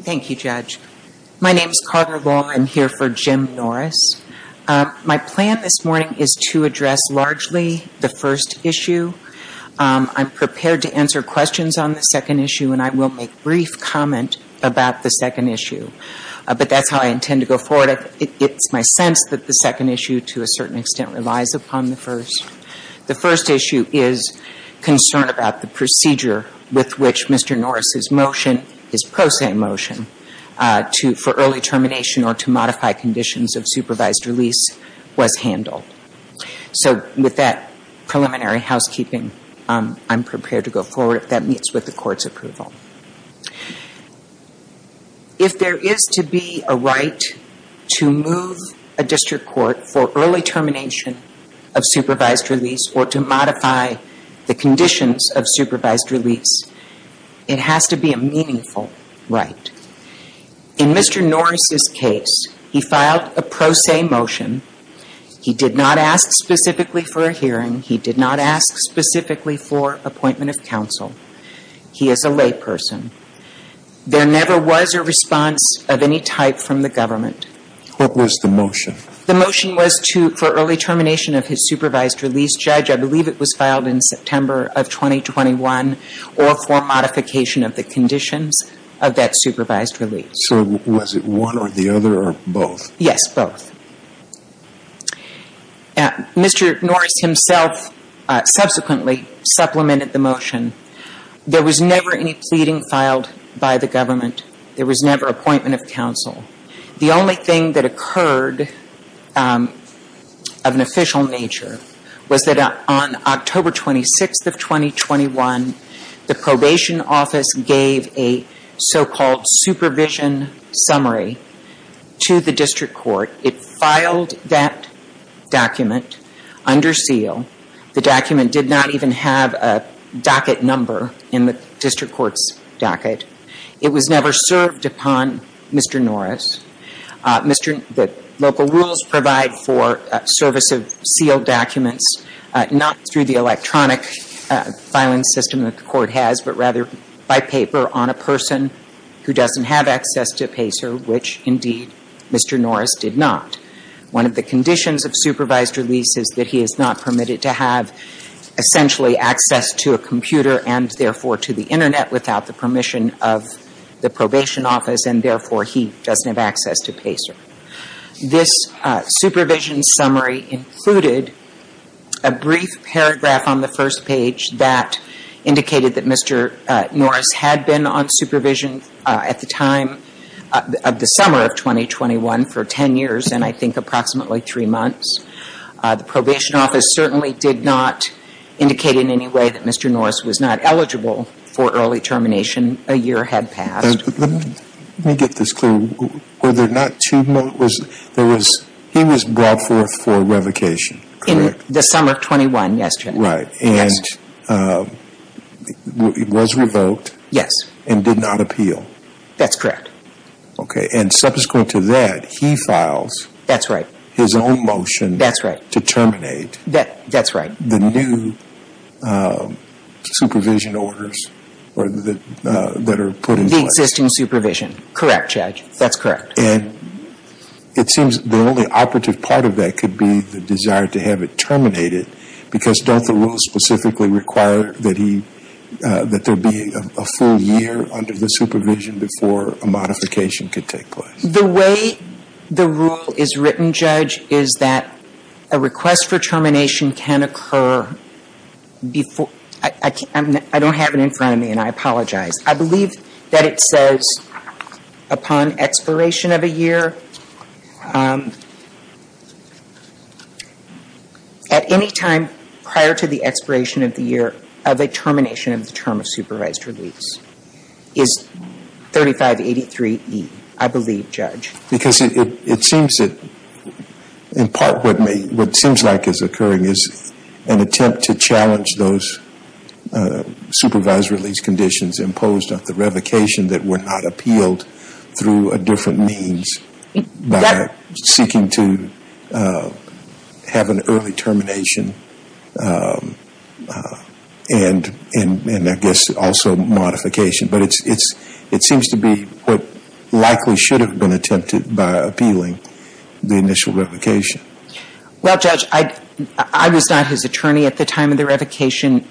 Thank you, Judge. My name is Carter Law. I'm here for Jim Norris. My plan this morning is to address largely the first issue. I'm prepared to answer questions on the second issue, and I will make brief comment about the second issue. But that's how I intend to go forward. It's my sense that the second issue, to a certain extent, relies upon the first. The first issue is concern about the procedure with which Mr. Norris's motion and his pro se motion for early termination or to modify conditions of supervised release was handled. So with that preliminary housekeeping, I'm prepared to go forward if that meets with the Court's approval. If there is to be a right to move a district court for early termination of supervised release or to modify the conditions of supervised release, it has to be a meaningful right. In Mr. Norris's case, he filed a pro se motion. He did not ask specifically for a hearing. He did not ask specifically for appointment of counsel. He is a layperson. There never was a response of any type from the government. What was the motion? The motion was to – for early termination of his supervised release. Judge, I believe it was filed in September of 2021 or for modification of the conditions of that supervised release. So was it one or the other or both? Yes, both. Mr. Norris himself subsequently supplemented the motion. There was never any pleading filed by the government. There was never appointment of counsel. The only thing that occurred of an official nature was that on October 26th of 2021, the Probation Office gave a so-called supervision summary to the district court. It filed that document under seal. The document did not even have a docket number in the district court's docket. It was never served upon Mr. Norris. Mr. – the local rules provide for service of sealed documents not through the electronic filing system that the court has, but rather by paper on a person who doesn't have access to PACER, which indeed Mr. Norris did not. One of the conditions of supervised release is that he is not permitted to have essentially access to a computer and therefore to the internet without the permission of the Probation Office and therefore he doesn't have access to PACER. This supervision summary included a brief paragraph on the first page that indicated that Mr. Norris had been on supervision at the time of the summer of 2021 for 10 years and I think approximately three months. The Probation Office certainly did not indicate in any way that Mr. Norris was not eligible for early termination. A year had passed. Let me get this clear. He was brought forth for revocation, correct? In the summer of 21, yes. And was revoked? Yes. And did not appeal? That's correct. Okay. And subsequent to that, he files his own motion to terminate the new supervision orders that are put in place? The existing supervision. Correct, Judge. That's correct. And it seems the only operative part of that could be the desire to have it terminated because don't the rules specifically require that there be a full year under the supervision before a modification could take place? The way the rule is written, Judge, is that a request for termination can occur before... I don't have it in front of me and I apologize. I believe that it says upon expiration of a year, at any time prior to the expiration of the year of a termination of the term of supervised release is 3583E, I believe, Judge. Because it seems that in part what seems like is occurring is an attempt to challenge those supervised release conditions imposed on the revocation that were not appealed through a different means by seeking to have an early termination and I guess also modification. But it seems to be what likely should have been attempted by appealing the initial revocation. Well, Judge, I was not his attorney at the time of the revocation.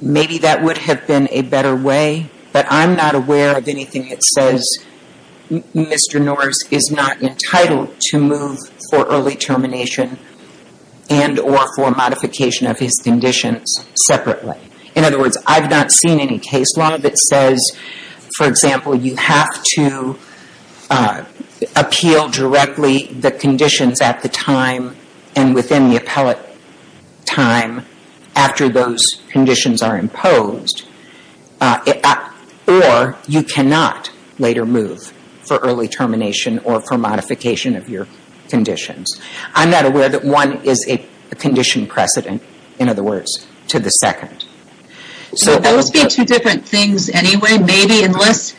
Maybe that would have been a better way, but I'm not aware of anything that says Mr. Norris is not entitled to move for early termination and or for modification of his conditions separately. In other words, I've not seen any case law that says, for example, you have to appeal directly the conditions at the time and within the appellate time after those conditions are imposed or you cannot later move for early termination or for modification of your conditions. I'm not aware that one is a condition precedent, in other words, to the second. So those being two different things anyway, maybe at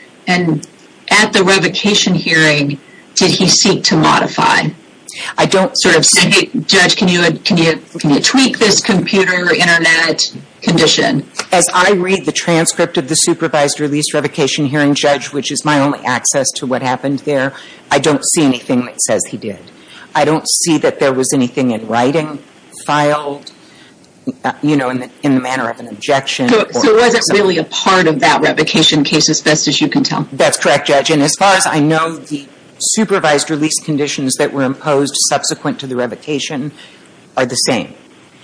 the revocation hearing did he seek to modify? I don't sort of see, Judge, can you tweak this computer internet condition? As I read the transcript of the supervised release revocation hearing, Judge, which is my only access to what happened there, I don't see anything that says he did. I don't see that there was anything in writing filed in the manner of an objection. So it wasn't really a part of that revocation case as best as you can tell? That's correct, Judge. And as far as I know, the supervised release conditions that were imposed subsequent to the revocation are the same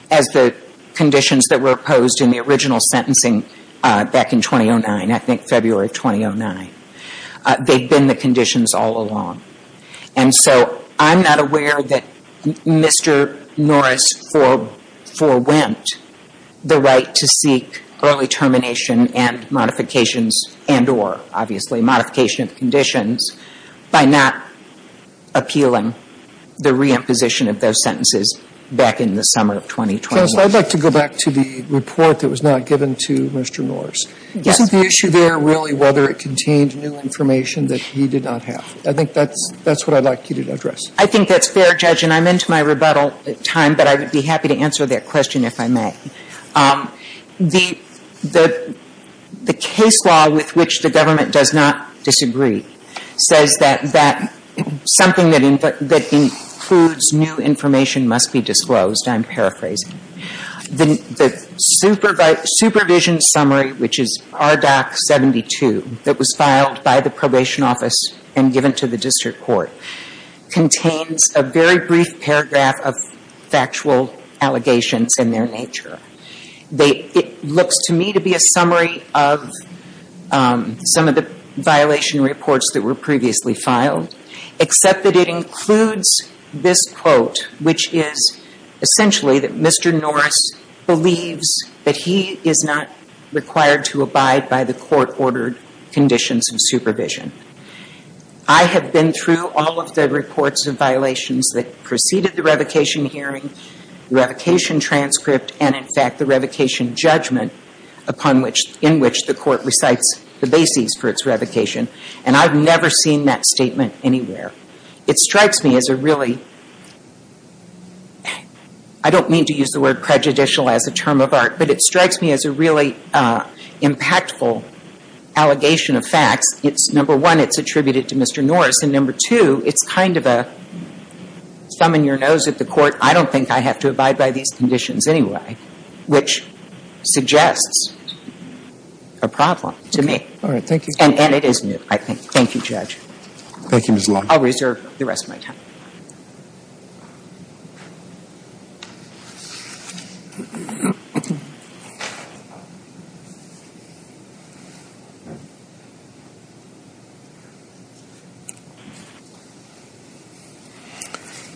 as the conditions that were posed in the original sentencing back in 2009, I think February 2009. They've been the conditions all along. And so I'm not aware that Mr. Norris forewent the right to seek early termination and modifications and or, obviously, modification of conditions by not appealing the re-imposition of those sentences back in the summer of 2020. Counsel, I'd like to go back to the report that was not given to Mr. Norris. Yes. Was the issue there really whether it contained new information that he did not have? I think that's what I'd like you to address. I think that's fair, Judge, and I'm into my rebuttal time, but I would be happy to answer that question if I may. The case law with which the government does not disagree says that something that includes new information must be disclosed. I'm paraphrasing. The supervision summary, which is RDoC 72, that was filed by the probation office and given to the district court contains a very brief paragraph of factual allegations in their nature. It looks to me to be a summary of some of the violation reports that were previously filed, except that it includes this quote, which is essentially that Mr. Norris believes that he is not required to abide by the court-ordered conditions of supervision. I have been through all of the reports of violations that preceded the revocation hearing, revocation transcript, and, in fact, the revocation judgment in which the court recites the basis for its revocation, and I've never seen that statement anywhere. It strikes me as a really, I don't mean to use the word prejudicial as a term of art, but it strikes me as a really impactful allegation of facts. It's, number one, it's attributed to Mr. Norris, and number two, it's kind of a thumb in your nose at the court, I don't think I have to abide by these conditions anyway, which suggests a problem to me. All right. Thank you. And it is new, I think. Thank you, Judge. Thank you, Ms. Long. I'll reserve the rest of my time.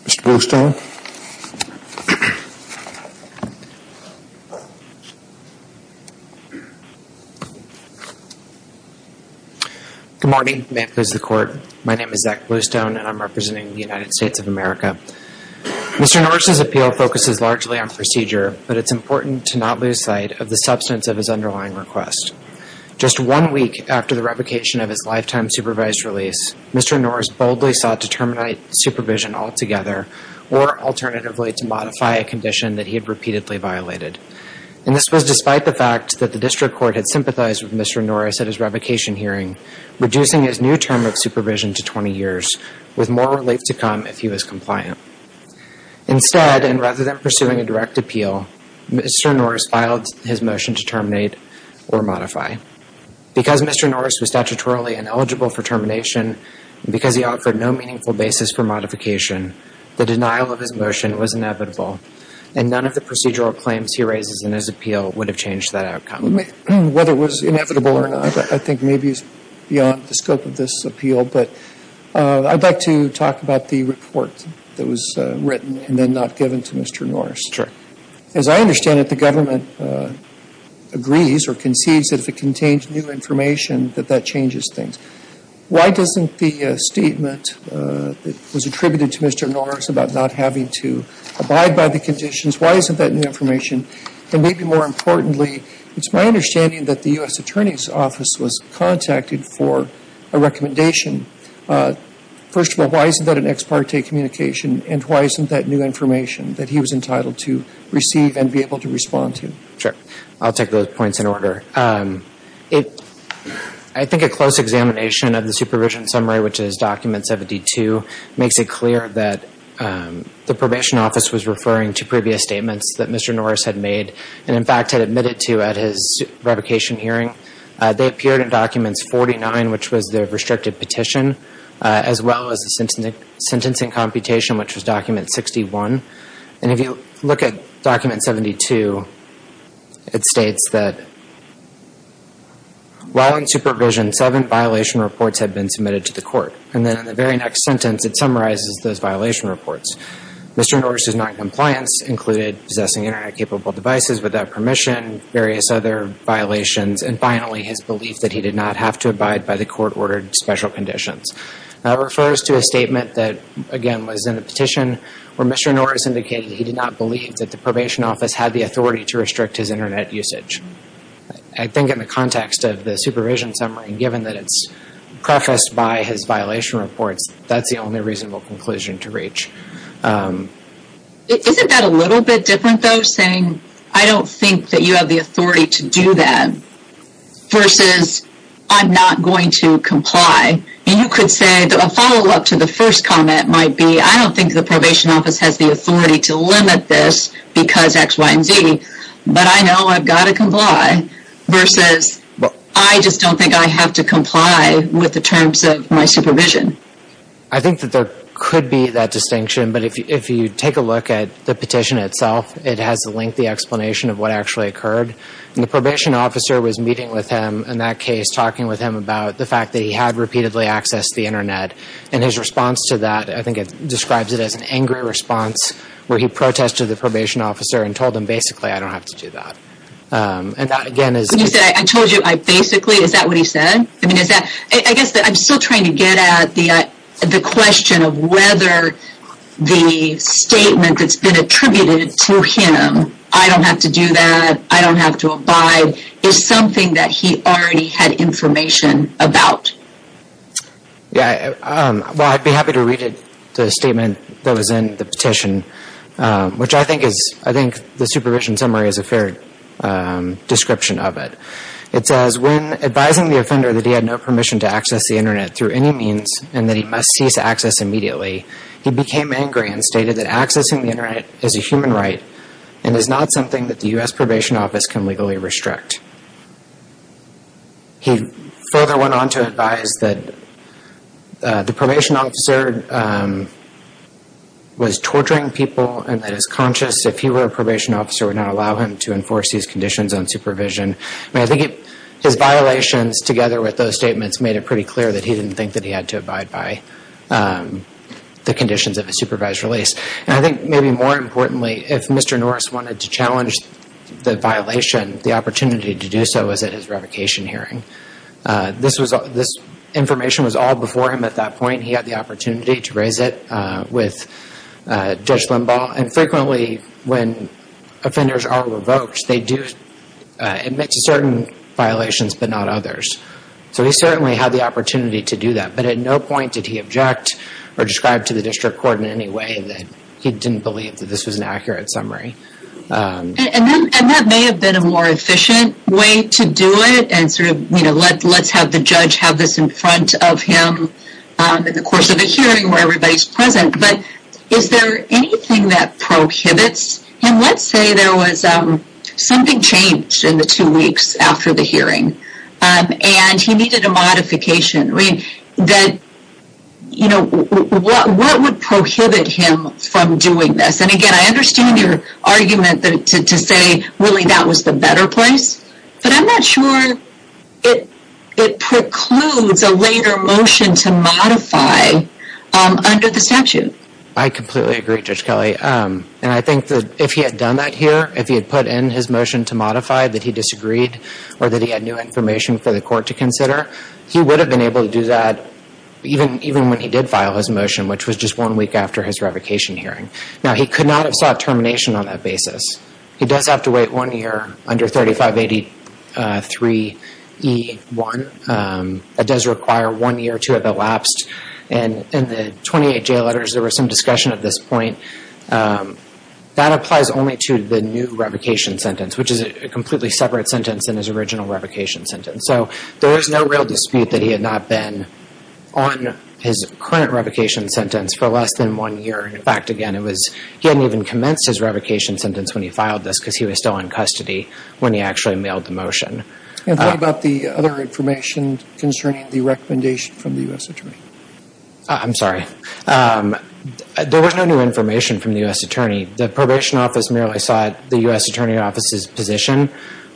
Mr. Goldstein. Good morning. May it please the Court. My name is Zach Bluestone, and I'm representing the United States of America. Mr. Norris's appeal focuses largely on procedure, but it's important to not lose sight of the substance of his underlying request. Just one week after the revocation of his lifetime supervised release, Mr. Norris boldly sought to terminate supervision altogether, or alternatively, to modify a condition that he had repeatedly violated. And this was despite the fact that the district court had sympathized with Mr. Norris at his revocation hearing, reducing his new term of supervision to 20 years, with more relief to come if he was compliant. Instead, and rather than pursuing a direct appeal, Mr. Norris filed his motion to terminate or modify. Because Mr. Norris was statutorily ineligible for termination, because he offered no meaningful basis for modification, the denial of his motion was inevitable, and none of the procedural claims he raises in his appeal would have changed that outcome. Whether it was inevitable or not, I think maybe it's beyond the scope of this appeal, but I'd like to talk about the report that was written and then not given to Mr. Norris. Sure. As I understand it, the government agrees or concedes that if it contains new information, that that changes things. Why doesn't the statement that was attributed to Mr. Norris about not having to abide by the conditions, why isn't that new information? And maybe more importantly, it's my understanding that the U.S. Attorney's Office was contacted for a recommendation. First of all, why isn't that an ex parte communication, and why isn't that new information that he was entitled to receive and be able to respond to? Sure. I'll take those points in order. I think a close examination of the supervision summary, which is document 72, makes it clear that the probation office was referring to previous statements that Mr. Norris had made, and in fact had admitted to at his revocation hearing. They appeared in documents 49, which was the restricted petition, as well as the sentencing computation, which was document 61. And if you look at document 72, it states that while in supervision, seven violation reports had been submitted to the court. And then in the very next sentence, it summarizes those violation reports. Mr. Norris' noncompliance included possessing internet-capable devices without permission, various other violations, and finally, his belief that he did not have to abide by the court-ordered special conditions. That refers to a statement that, again, was in a petition where Mr. Norris indicated he did not believe that the probation office had the authority to restrict his internet usage. I think in the context of the supervision summary, given that it's prefaced by his violation reports, that's the only reasonable conclusion to reach. Isn't that a little bit different, though, saying I don't think that you have the authority to do that, versus I'm not going to comply? And you could say, a follow-up to the first comment might be, I don't think the probation office has the authority to limit this because X, Y, and Z, but I know I've got to comply, versus I just don't think I have to comply with the terms of my supervision. I think that there could be that distinction, but if you take a look at the petition itself, it has a lengthy explanation of what actually occurred. And the probation officer was meeting with him in that case, talking with him about the fact that he had repeatedly accessed the internet. And his response to that, I think it describes it as an angry response, where he protested the probation officer and told him, basically, I don't have to do that. And that, again, is... You said, I told you, I basically, is that what he said? I mean, is that... I guess that I'm still trying to get at the question of whether the statement that's been attributed to him, I don't have to do that, I don't have to abide, is something that he already had information about. Yeah, well, I'd be happy to read it, the statement that was in the petition, which I think is, I think the supervision summary is a fair description of it. It says, when advising the offender that he had no permission to access the internet through any means and that he must cease access immediately, he became angry and stated that accessing the internet is not something that the U.S. Probation Office can legally restrict. He further went on to advise that the probation officer was torturing people and that his conscience, if he were a probation officer, would not allow him to enforce these conditions on supervision. I mean, I think his violations, together with those statements, made it pretty clear that he didn't think that he had to abide by the conditions of a supervised release. And I think maybe more importantly, if Mr. Norris wanted to challenge the violation, the opportunity to do so was at his revocation hearing. This information was all before him at that point. He had the opportunity to raise it with Judge Limbaugh. And frequently, when offenders are revoked, they do admit to certain violations but not others. So he certainly had the opportunity to do that. At no point did he object or describe to the District Court in any way that he didn't believe that this was an accurate summary. And that may have been a more efficient way to do it and sort of, you know, let's have the judge have this in front of him in the course of the hearing where everybody's present. But is there anything that prohibits him? Let's say there was something changed in the two weeks after the that, you know, what would prohibit him from doing this? And again, I understand your argument to say, really, that was the better place. But I'm not sure it precludes a later motion to modify under the statute. I completely agree, Judge Kelly. And I think that if he had done that here, if he had put in his motion to modify that he disagreed or that he had new for the court to consider, he would have been able to do that even when he did file his motion, which was just one week after his revocation hearing. Now he could not have sought termination on that basis. He does have to wait one year under 3583E1. That does require one year to have elapsed. And in the 28 jail letters, there was some discussion at this point. That applies only to the new revocation sentence, which is a completely separate sentence than his original revocation sentence. So there is no real dispute that he had not been on his current revocation sentence for less than one year. In fact, again, he hadn't even commenced his revocation sentence when he filed this because he was still in custody when he actually mailed the motion. And what about the other information concerning the recommendation from the U.S. Attorney? I'm sorry. There was no new information from the U.S. Attorney. The probation office merely sought the U.S. Attorney's office's position.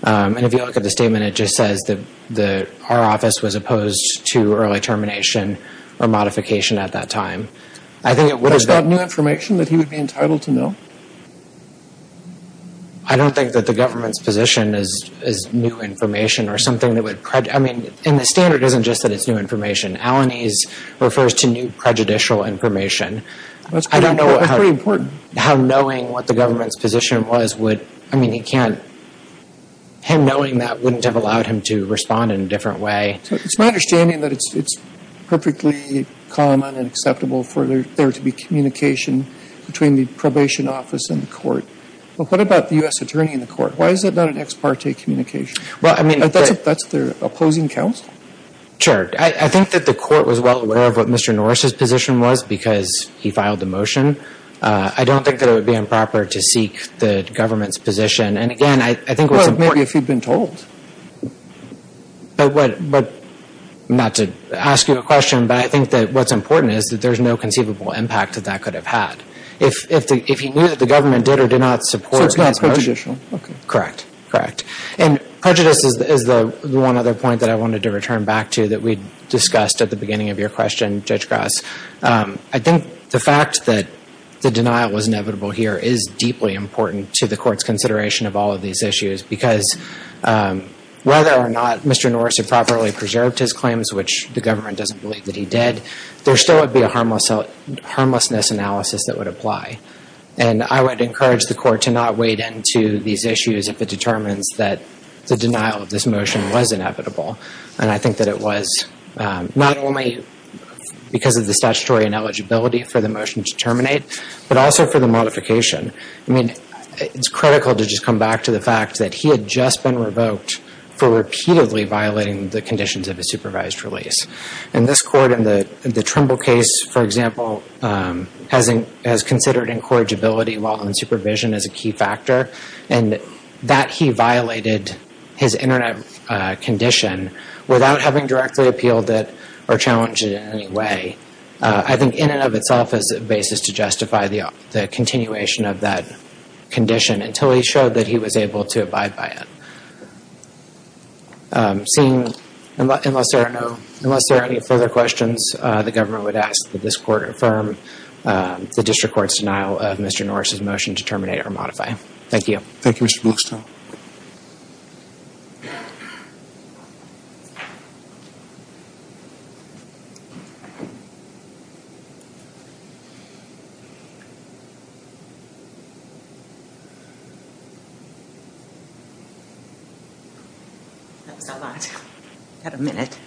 And if you look at the statement, it just says that our office was opposed to early termination or modification at that time. Is that new information that he would be entitled to know? I don't think that the government's position is new information or something that would prejudice. I mean, and the standard isn't just that it's new information. Alanis refers to new prejudicial information. That's pretty important. I don't know how knowing what the government's position was would, I mean, he can't, him knowing that wouldn't have allowed him to respond in a different way. It's my understanding that it's perfectly common and acceptable for there to be communication between the probation office and the court. But what about the U.S. Attorney in the court? Why is it not an ex parte communication? That's their opposing counsel? Sure. I think that the court was well aware of what Mr. Norris's position was because he filed the motion. I don't think that it would be improper to seek the government's position. And again, I think what's important... Well, maybe if he'd been told. But what, not to ask you a question, but I think that what's important is that there's no conceivable impact that that could have had. If he knew that the government did or did not support... So it's not prejudicial. Correct. Correct. And prejudice is the one other point that I wanted to return back to that we the fact that the denial was inevitable here is deeply important to the court's consideration of all of these issues because whether or not Mr. Norris had properly preserved his claims, which the government doesn't believe that he did, there still would be a harmlessness analysis that would apply. And I would encourage the court to not wade into these issues if it determines that the denial of this motion was inevitable. And I think that it was not only because of the statutory ineligibility for the motion to terminate, but also for the modification. I mean, it's critical to just come back to the fact that he had just been revoked for repeatedly violating the conditions of a supervised release. And this court in the Trimble case, for example, has considered incorrigibility while in supervision as a key factor. And that he violated his internet condition without having directly appealed it or challenged it in any way, I think in and of itself is a basis to justify the continuation of that condition until he showed that he was able to abide by it. Seeing... Unless there are no... Unless there are any further questions, the government would ask that this court affirm the district court's denial of Mr. Thank you. Thank you, Mr. Bloxtown. That's a lot. I've got a minute.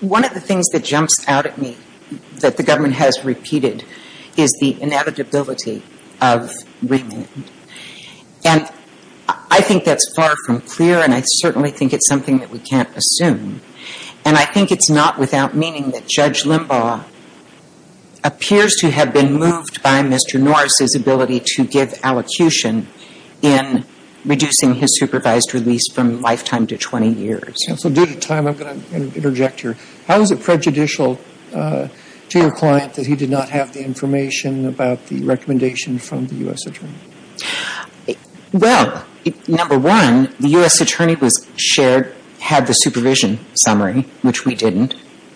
One of the things that jumps out at me that the government has repeated is the inevitability of remand. And I think that's far from clear, and I certainly think it's something that we can't assume. And I think it's not without meaning that Judge Limbaugh appears to have been moved by Mr. Norris's ability to give allocution in reducing his supervised release from lifetime to 20 years. So due to time, I'm going to interject here. How is it prejudicial to your client that he did not have the information about the recommendation from the U.S. attorney? Well, number one, the U.S. attorney was shared, had the supervision summary, which we didn't.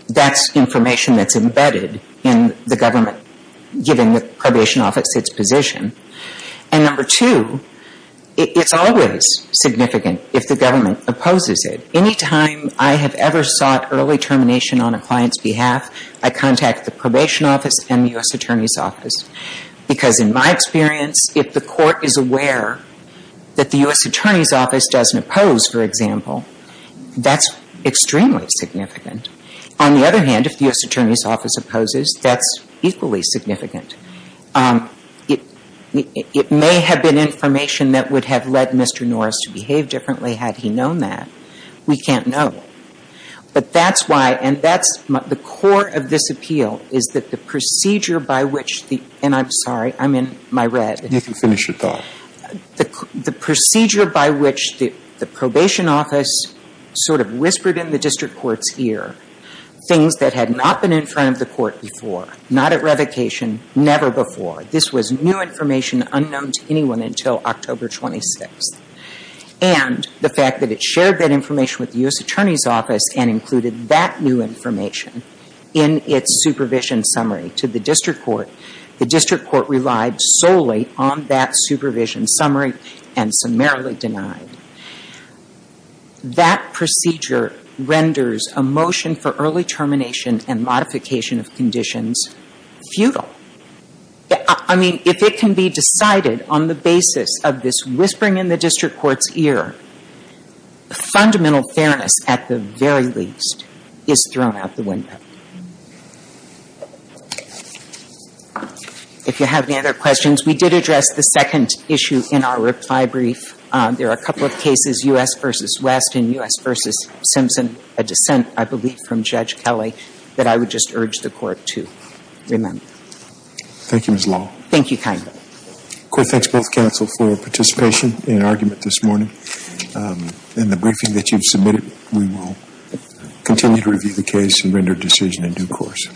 That's information that's embedded in the government giving the probation office its position. And number two, it's always significant if the government opposes it. Anytime I have ever sought early termination on a client's behalf, I contact the probation office and the U.S. attorney's office. Because in my experience, if the court is aware that the U.S. attorney's office doesn't oppose, for example, that's extremely significant. On the other hand, if the U.S. attorney's office opposes, that's equally significant. It may have been information that would have led Mr. Norris to behave differently had he known that. We can't know. But that's why, and that's the core of this appeal, is that the procedure by which the, and I'm sorry, I'm in my red. You can finish your thought. The procedure by which the probation office sort of whispered in the district court's ear things that had not been in front of the court before, not at revocation, never before. This was new information unknown to anyone until October 26th. And the fact that it shared that information with the U.S. attorney's office and included that new information in its supervision summary to the district court, the district court relied solely on that supervision summary and summarily denied. That procedure renders a motion for early termination and modification of conditions futile. I mean, if it can be decided on the basis of this whispering in the district court's ear, the fundamental fairness at the very least is thrown out the window. If you have any other questions, we did address the second issue in our reply brief. There are a couple of cases, U.S. v. West and U.S. v. Simpson, a dissent, I believe, from Judge Kelly, that I would just urge the court to remember. Thank you, Ms. Law. Thank you kindly. The court thanks both counsel for participation in the argument this morning. In the briefing that you submitted, we will continue to review the case and render a decision in due course.